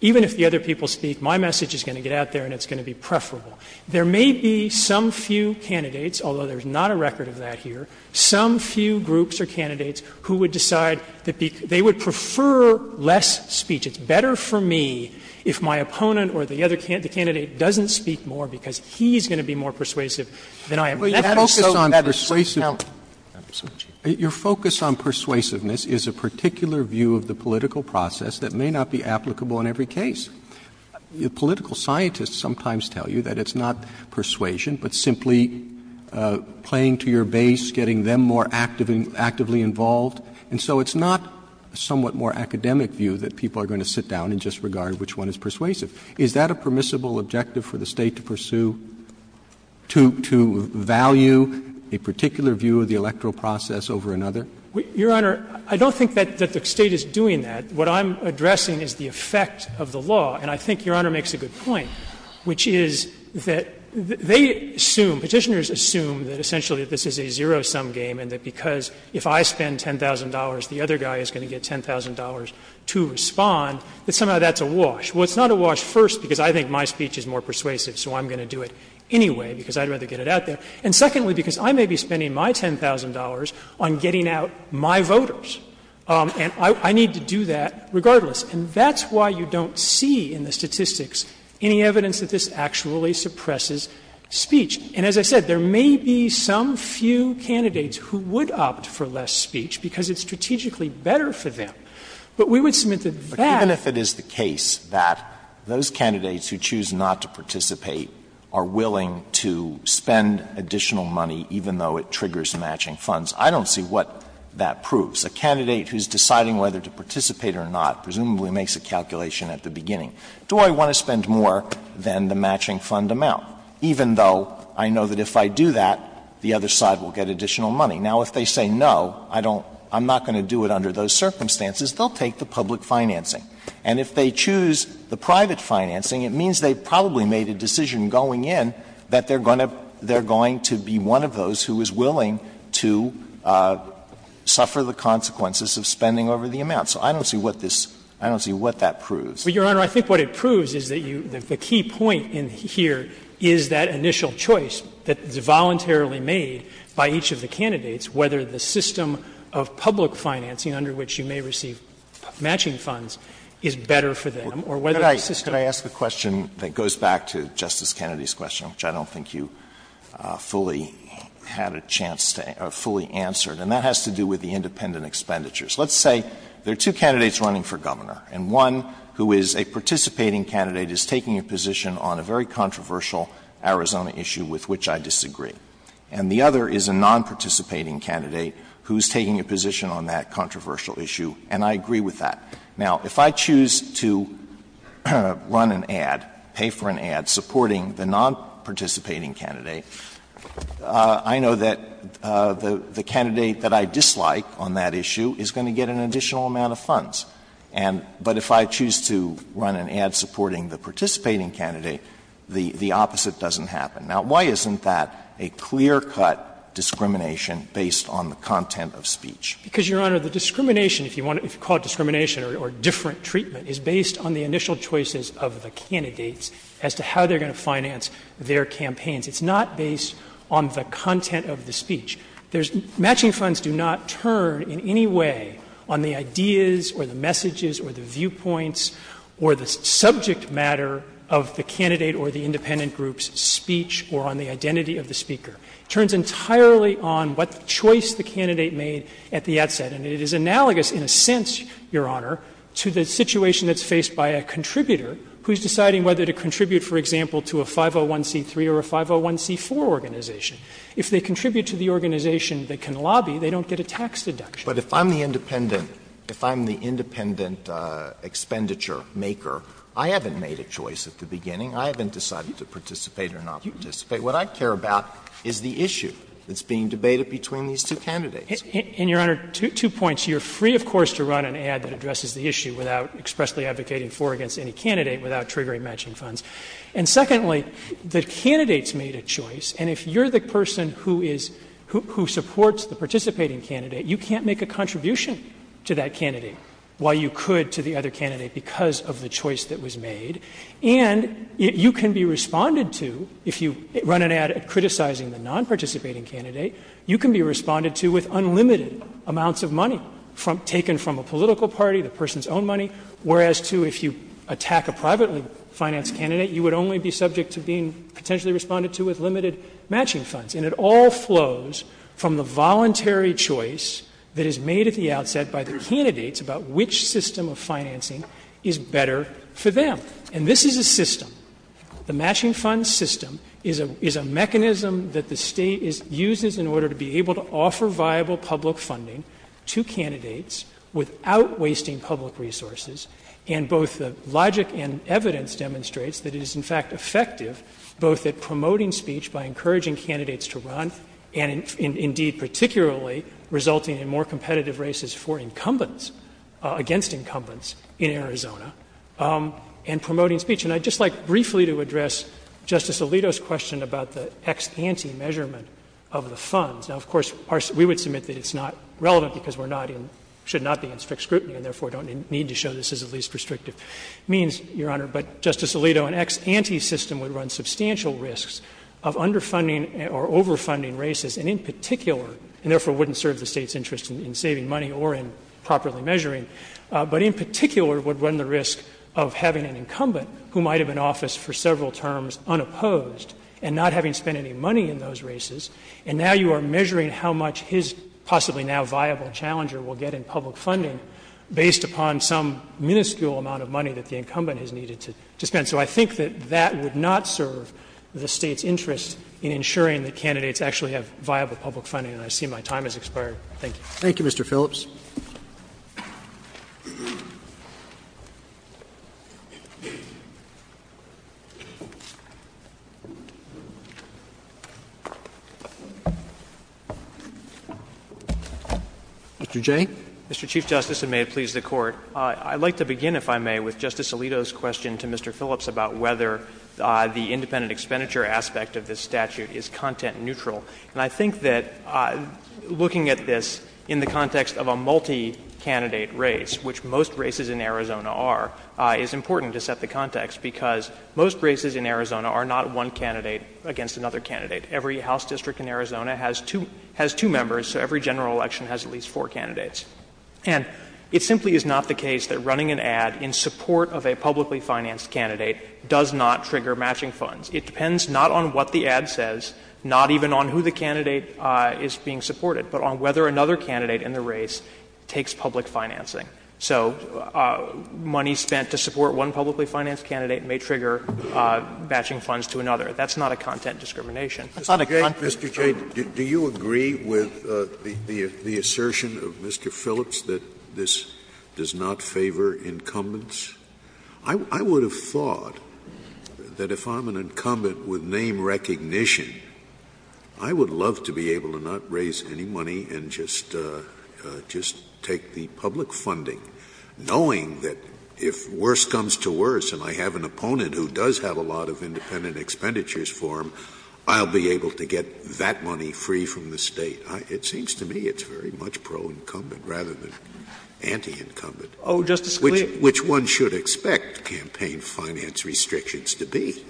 even if the other people speak, my message is going to get out there and it's going to be preferable. There may be some few candidates, although there's not a record of that here, some few groups or candidates who would decide that they would prefer less speech. It's better for me if my opponent or the other candidate doesn't speak more because he's going to be more persuasive than I am. That is so better. Roberts Your Honor, I don't think that there is a particular view of the political process that may not be applicable in every case. Political scientists sometimes tell you that it's not persuasion, but simply playing to your base, getting them more actively involved. And so it's not a somewhat more academic view that people are going to sit down and just regard which one is persuasive. Is that a permissible objective for the State to pursue, to value a particular view of the electoral process over another? Your Honor, I don't think that the State is doing that. What I'm addressing is the effect of the law, and I think Your Honor makes a good point, which is that they assume, Petitioners assume that essentially this is a zero-sum game and that because if I spend $10,000, the other guy is going to get $10,000 to respond, that somehow that's a wash. Well, it's not a wash, first, because I think my speech is more persuasive, so I'm going to do it anyway because I'd rather get it out there. And secondly, because I may be spending my $10,000 on getting out my voters, and I need to do that regardless. And that's why you don't see in the statistics any evidence that this actually suppresses speech. And as I said, there may be some few candidates who would opt for less speech because it's strategically better for them. But we would submit that that's not the case. Alitoso, but even if it is the case that those candidates who choose not to participate are willing to spend additional money even though it triggers matching funds, I don't see what that proves. A candidate who is deciding whether to participate or not presumably makes a calculation at the beginning. Do I want to spend more than the matching fund amount, even though I know that if I do that, the other side will get additional money? Now, if they say no, I don't — I'm not going to do it under those circumstances, they'll take the public financing. And if they choose the private financing, it means they probably made a decision going in that they're going to be one of those who is willing to suffer the consequences of spending over the amount. So I don't see what this — I don't see what that proves. But, Your Honor, I think what it proves is that you — the key point in here is that initial choice that is voluntarily made by each of the candidates, whether the system of public financing under which you may receive matching funds is better for them or whether the system— Alitoso, could I ask a question that goes back to Justice Kennedy's question, which I don't think you fully had a chance to — or fully answered, and that has to do with the independent expenditures. Let's say there are two candidates running for governor, and one who is a participating candidate is taking a position on a very controversial Arizona issue with which I disagree. And the other is a nonparticipating candidate who is taking a position on that controversial issue, and I agree with that. Now, if I choose to run an ad, pay for an ad, supporting the nonparticipating candidate, I know that the candidate that I dislike on that issue is going to get an additional amount of funds. And — but if I choose to run an ad supporting the participating candidate, the opposite doesn't happen. Now, why isn't that a clear-cut discrimination based on the content of speech? Because, Your Honor, the discrimination, if you want to — if you call it discrimination or different treatment, is based on the initial choices of the candidates as to how they're going to finance their campaigns. It's not based on the content of the speech. There's — matching funds do not turn in any way on the ideas or the messages or the viewpoints or the subject matter of the candidate or the independent group's speech or on the identity of the speaker. It turns entirely on what choice the candidate made at the outset. And it is analogous, in a sense, Your Honor, to the situation that's faced by a contributor who is deciding whether to contribute, for example, to a 501c3 or a 501c4 organization. If they contribute to the organization that can lobby, they don't get a tax deduction. Alito, if I'm the independent — if I'm the independent expenditure maker, I haven't made a choice at the beginning. I haven't decided to participate or not participate. What I care about is the issue that's being debated between these two candidates. And, Your Honor, two points. You're free, of course, to run an ad that addresses the issue without expressly advocating for or against any candidate without triggering matching funds. And secondly, the candidates made a choice, and if you're the person who is — who supports the participating candidate, you can't make a contribution to that candidate while you could to the other candidate because of the choice that was made. And you can be responded to, if you run an ad criticizing the nonparticipating candidate, you can be responded to with unlimited amounts of money taken from a political party, the person's own money, whereas, too, if you attack a privately financed candidate, you would only be subject to being potentially responded to with limited matching funds, and it all flows from the voluntary choice that is made at the outset by the candidates about which system of financing is better for them. And this is a system. The matching funds system is a mechanism that the State uses in order to be able to offer viable public funding to candidates without wasting public resources, and both the logic and evidence demonstrates that it is, in fact, effective both at promoting speech by encouraging candidates to run and, indeed, particularly resulting in more competitive races for incumbents — against incumbents in Arizona, and promoting speech. And I'd just like briefly to address Justice Alito's question about the ex ante measurement of the funds. Now, of course, we would submit that it's not relevant because we're not in — should not be in strict scrutiny and, therefore, don't need to show this as a least restrictive means, Your Honor, but, Justice Alito, an ex ante system would run substantial risks of underfunding or overfunding races, and in particular — and, therefore, wouldn't serve the State's interest in saving money or in properly measuring — but in particular would run the risk of having an incumbent who might have been in office for several terms unopposed and not having spent any money in those races, and now you are measuring how much his possibly now viable challenger will get in public funding based upon some minuscule amount of money that the incumbent has needed to spend. So I think that that would not serve the State's interest in ensuring that candidates actually have viable public funding. And I see my time has expired. Thank you. Roberts. Thank you, Mr. Phillips. Mr. Jay. Mr. Chief Justice, and may it please the Court, I'd like to begin, if I may, with a couple of comments about whether the independent expenditure aspect of this statute is content-neutral. And I think that looking at this in the context of a multi-candidate race, which most races in Arizona are, is important to set the context, because most races in Arizona are not one candidate against another candidate. Every House district in Arizona has two — has two members, so every general election has at least four candidates. And it simply is not the case that running an ad in support of a publicly financed candidate does not trigger matching funds. It depends not on what the ad says, not even on who the candidate is being supported, but on whether another candidate in the race takes public financing. So money spent to support one publicly financed candidate may trigger matching funds to another. That's not a content discrimination. It's not a content discrimination. Scalia. Mr. Jay, do you agree with the assertion of Mr. Phillips that this does not favor incumbents? I would have thought that if I'm an incumbent with name recognition, I would love to be able to not raise any money and just take the public funding, knowing that if worse comes to worse and I have an opponent who does have a lot of independent expenditures for him, I'll be able to get that money free from the State. It seems to me it's very much pro-incumbent rather than anti-incumbent. Oh, Justice Scalia. Which one should expect campaign finance restrictions to be?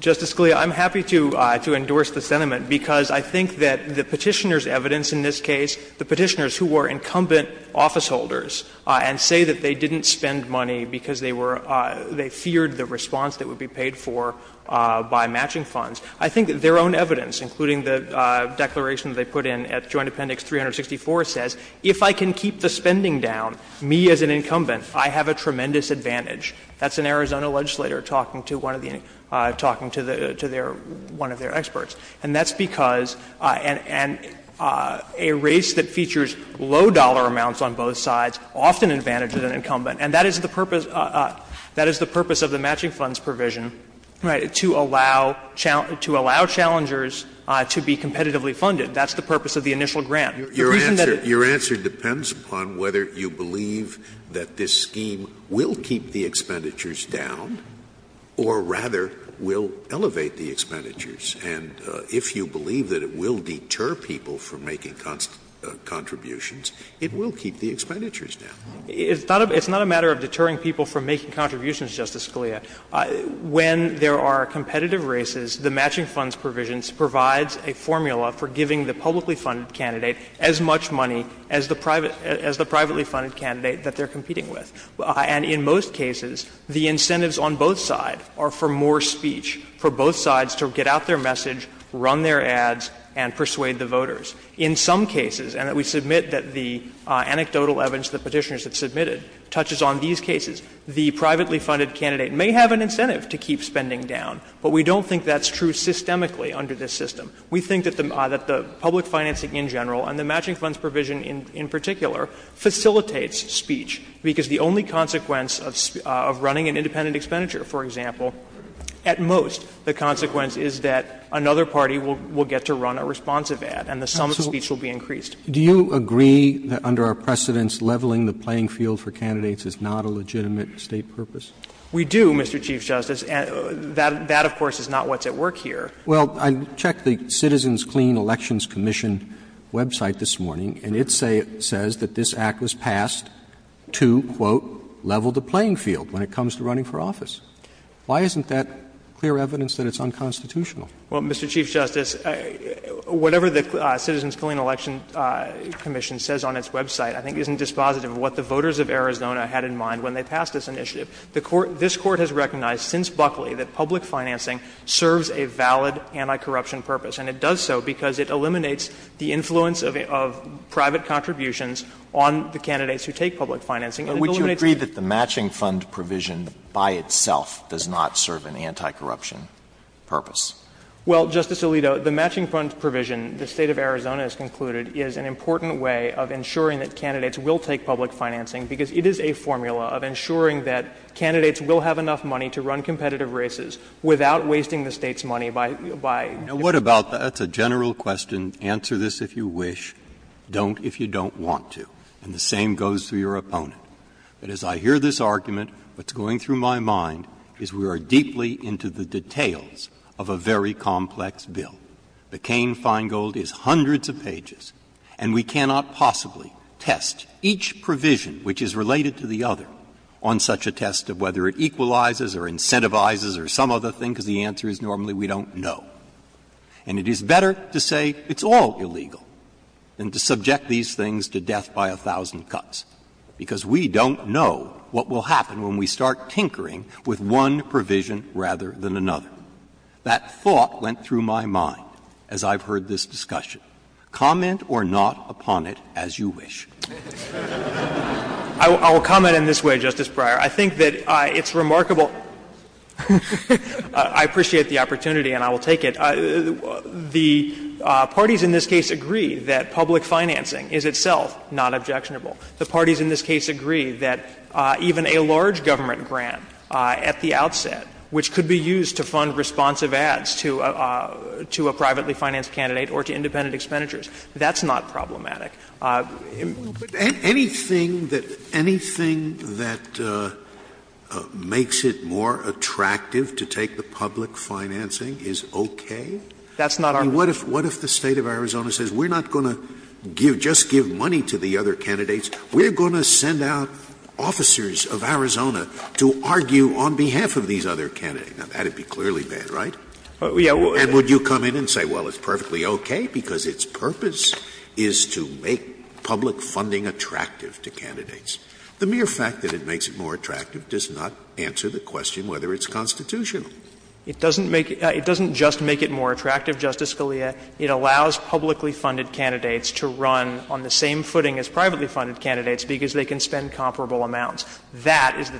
Justice Scalia, I'm happy to endorse the sentiment, because I think that the Petitioner's evidence in this case, the Petitioners who were incumbent officeholders and say that they didn't spend money because they feared the response that would be paid for by matching funds, I think their own evidence, including the declaration they put in at Joint Appendix 364, says if I can keep the spending down, me as an incumbent I have a tremendous advantage. That's an Arizona legislator talking to one of the — talking to their — one of their experts. And that's because — and a race that features low dollar amounts on both sides often advantages an incumbent. And that is the purpose — that is the purpose of the matching funds provision, right, to allow — to allow challengers to be competitively funded. That's the purpose of the initial grant. The reason that it's— Scalia, it's not a matter of deterring people from making contributions, Justice Scalia. When there are competitive races, the matching funds provisions provides a formula for giving the publicly funded candidate as much money as the private — as the public funded candidate that they're competing with. And in most cases, the incentives on both sides are for more speech, for both sides to get out their message, run their ads, and persuade the voters. In some cases, and we submit that the anecdotal evidence that Petitioner has submitted touches on these cases, the privately funded candidate may have an incentive to keep spending down, but we don't think that's true systemically under this system. We think that the public financing in general, and the matching funds provision in particular, facilitates speech, because the only consequence of running an independent expenditure, for example, at most, the consequence is that another party will get to run a responsive ad, and the sum of speech will be increased. Roberts, do you agree that under our precedents, leveling the playing field for candidates is not a legitimate State purpose? We do, Mr. Chief Justice, and that, of course, is not what's at work here. Roberts, well, I checked the Citizens Clean Elections Commission website this morning, and it says that this Act was passed to, quote, level the playing field when it comes to running for office. Why isn't that clear evidence that it's unconstitutional? Well, Mr. Chief Justice, whatever the Citizens Clean Election Commission says on its website I think isn't dispositive of what the voters of Arizona had in mind when they passed this initiative. The Court – this Court has recognized since Buckley that public financing serves a valid anti-corruption purpose, and it does so because it eliminates the influence of private contributions on the candidates who take public financing. And it eliminates the— But would you agree that the matching fund provision by itself does not serve an anti-corruption purpose? Well, Justice Alito, the matching fund provision, the State of Arizona has concluded, is an important way of ensuring that candidates will take public financing, because it is a formula of ensuring that candidates will have enough money to run competitive races without wasting the State's money by – by— Now, what about the – that's a general question, answer this if you wish, don't if you don't want to. And the same goes for your opponent. But as I hear this argument, what's going through my mind is we are deeply into the details of a very complex bill. The Caine-Feingold is hundreds of pages, and we cannot possibly test each provision which is related to the other on such a test of whether it equalizes or incentivizes or some other thing, because the answer is normally we don't know. And it is better to say it's all illegal than to subject these things to death by a thousand cuts, because we don't know what will happen when we start tinkering with one provision rather than another. That thought went through my mind as I've heard this discussion. Comment or not upon it as you wish. I will comment in this way, Justice Breyer. I think that it's remarkable – I appreciate the opportunity and I will take it. The parties in this case agree that public financing is itself not objectionable. The parties in this case agree that even a large government grant at the outset, which could be used to fund responsive ads to a privately financed candidate or to independent expenditures, that's not problematic. Scalia Anything that makes it more attractive to take the public financing is okay? And what if the State of Arizona says, we're not going to just give money to the other candidates, we're going to send out officers of Arizona to argue on behalf of these other candidates? Now, that would be clearly bad, right? And would you come in and say, well, it's perfectly okay because its purpose is to make public funding attractive to candidates. The mere fact that it makes it more attractive does not answer the question whether it's constitutional. It doesn't make it – it doesn't just make it more attractive, Justice Scalia. It allows publicly funded candidates to run on the same footing as privately funded candidates because they can spend comparable amounts. That is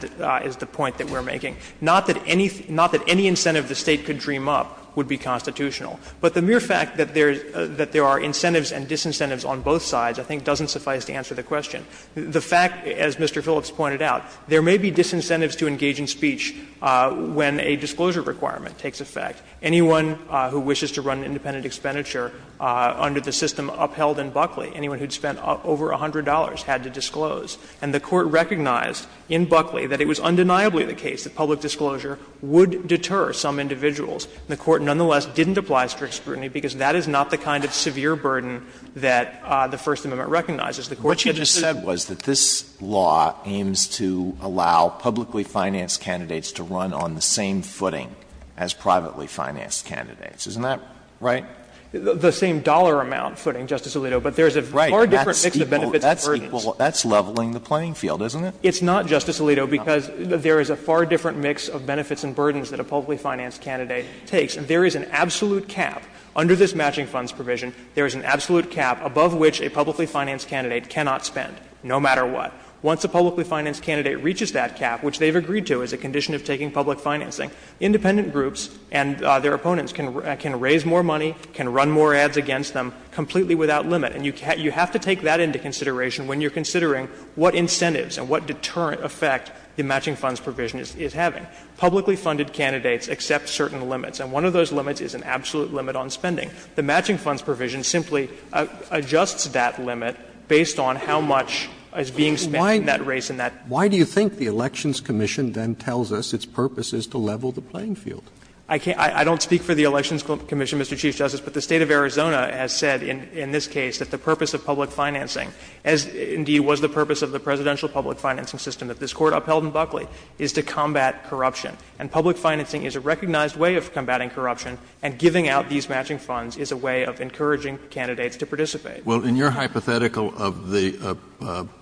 the point that we're making. Not that any incentive the State could dream up would be constitutional. But the mere fact that there are incentives and disincentives on both sides I think doesn't suffice to answer the question. The fact, as Mr. Phillips pointed out, there may be disincentives to engage in speech when a disclosure requirement takes effect. Anyone who wishes to run independent expenditure under the system upheld in Buckley, anyone who had spent over $100 had to disclose. And the Court recognized in Buckley that it was undeniably the case that public disclosure would deter some individuals. And the Court nonetheless didn't apply strict scrutiny because that is not the kind of severe burden that the First Amendment recognizes. The Court should just say that this law aims to allow publicly financed candidates to run on the same footing as privately financed candidates. Isn't that right? The same dollar amount footing, Justice Alito, but there's a far different mix of benefits and burdens. That's leveling the playing field, isn't it? It's not, Justice Alito, because there is a far different mix of benefits and burdens that a publicly financed candidate takes. And there is an absolute cap under this matching funds provision, there is an absolute cap above which a publicly financed candidate cannot spend, no matter what. Once a publicly financed candidate reaches that cap, which they've agreed to as a condition of taking public financing, independent groups and their opponents can raise more money, can run more ads against them, completely without limit. And you have to take that into consideration when you're considering what incentives and what deterrent effect the matching funds provision is having. Publicly funded candidates accept certain limits, and one of those limits is an absolute limit on spending. The matching funds provision simply adjusts that limit based on how much is being spent in that race and that. Roberts. Roberts. Why do you think the Elections Commission then tells us its purpose is to level the playing field? I don't speak for the Elections Commission, Mr. Chief Justice, but the State of Arizona has said in this case that the purpose of public financing, as indeed was the purpose of the presidential public financing system that this Court upheld in Buckley, is to combat corruption. And public financing is a recognized way of combating corruption, and giving out these matching funds is a way of encouraging candidates to participate. Well, in your hypothetical of the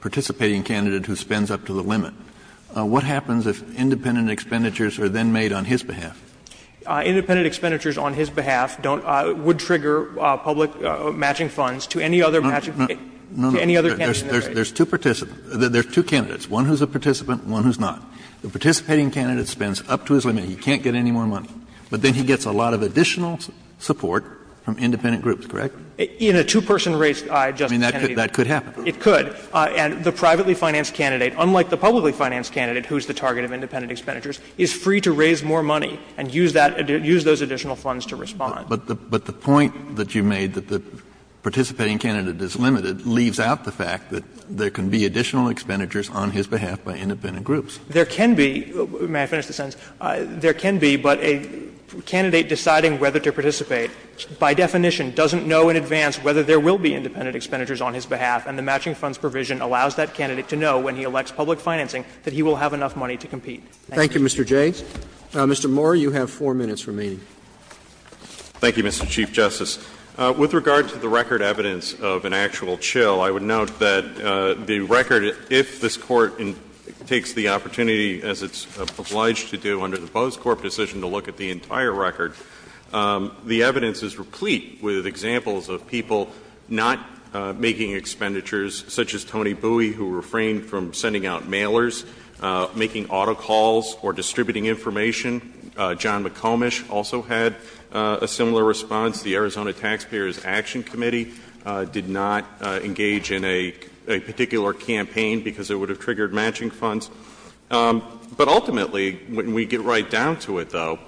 participating candidate who spends up to the limit, what happens if independent expenditures are then made on his behalf? Independent expenditures on his behalf don't – would trigger public matching funds to any other matching – to any other candidate in the race. No, no, there's two participants – there's two candidates, one who's a participant and one who's not. The participating candidate spends up to his limit. He can't get any more money. But then he gets a lot of additional support from independent groups, correct? In a two-person race, Justice Kennedy, that could happen. It could. And the privately financed candidate, unlike the publicly financed candidate, who's the target of independent expenditures, is free to raise more money and use that – use those additional funds to respond. But the point that you made, that the participating candidate is limited, leaves out the fact that there can be additional expenditures on his behalf by independent groups. There can be – may I finish the sentence? There can be, but a candidate deciding whether to participate by definition doesn't know in advance whether there will be independent expenditures on his behalf, and the matching funds provision allows that candidate to know when he elects public financing that he will have enough money to compete. Thank you. Thank you, Mr. Jay. Mr. Moore, you have 4 minutes remaining. Thank you, Mr. Chief Justice. With regard to the record evidence of an actual chill, I would note that the record – if this Court takes the opportunity, as it's obliged to do under the Bose Corp. decision to look at the entire record, the evidence is replete with examples of people not making expenditures, such as Tony Bui, who refrained from sending out mailers, making auto calls, or distributing information. John McComish also had a similar response. The Arizona Taxpayers Action Committee did not engage in a particular campaign because it would have triggered matching funds. But ultimately, when we get right down to it, though,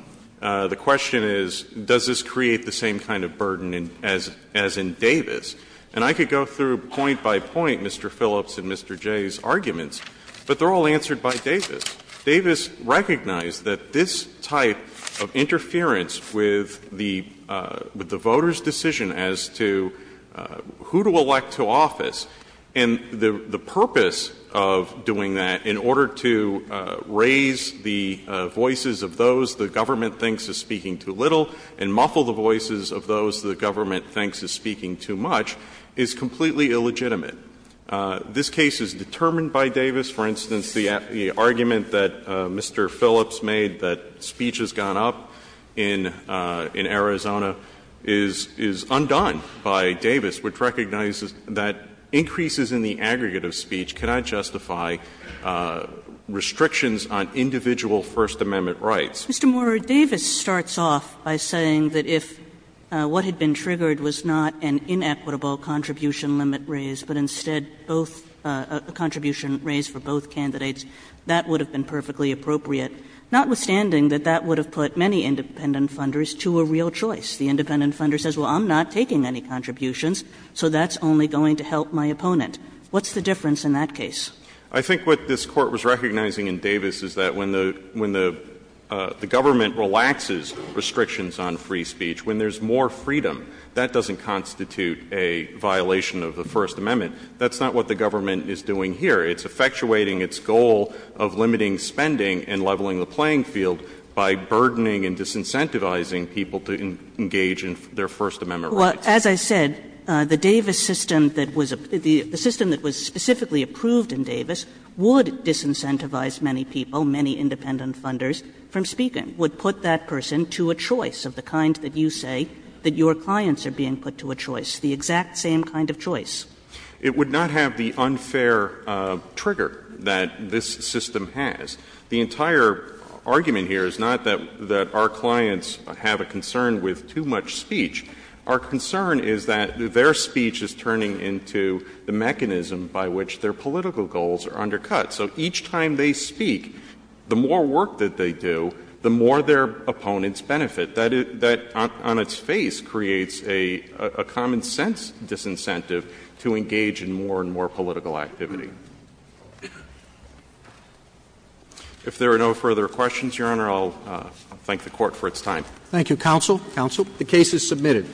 the question is, does this create the same kind of burden as in Davis? And I could go through point by point Mr. Phillips and Mr. Jay's arguments, but they're all answered by Davis. Davis recognized that this type of interference with the voters' decision as to who to elect to office and the purpose of doing that in order to raise the voices of those the government thinks is speaking too little and muffle the voices of those the government thinks is speaking too much is completely illegitimate. This case is determined by Davis. For instance, the argument that Mr. Phillips made that speech has gone up in Arizona is undone by Davis, which recognizes that increases in the aggregate of speech cannot justify restrictions on individual First Amendment rights. Kagan. Mr. Morris, Davis starts off by saying that if what had been triggered was not an inequitable contribution limit raise, but instead both — a contribution raise for both candidates, that would have been perfectly appropriate, notwithstanding that that would have put many independent funders to a real choice. The independent funder says, well, I'm not taking any contributions, so that's only going to help my opponent. What's the difference in that case? I think what this Court was recognizing in Davis is that when the government relaxes restrictions on free speech, when there's more freedom, that doesn't constitute a violation of the First Amendment. That's not what the government is doing here. It's effectuating its goal of limiting spending and leveling the playing field by burdening and disincentivizing people to engage in their First Amendment rights. Kagan. Well, as I said, the Davis system that was — the system that was specifically approved in Davis would disincentivize many people, many independent funders, from speaking, would put that person to a choice of the kind that you say that your clients are being put to a choice, the exact same kind of choice. It would not have the unfair trigger that this system has. The entire argument here is not that our clients have a concern with too much speech. Our concern is that their speech is turning into the mechanism by which their political goals are undercut. So each time they speak, the more work that they do, the more their opponents benefit. That, on its face, creates a common-sense disincentive to engage in more and more political activity. If there are no further questions, Your Honor, I'll thank the Court for its time. Thank you, counsel. Counsel. The case is submitted.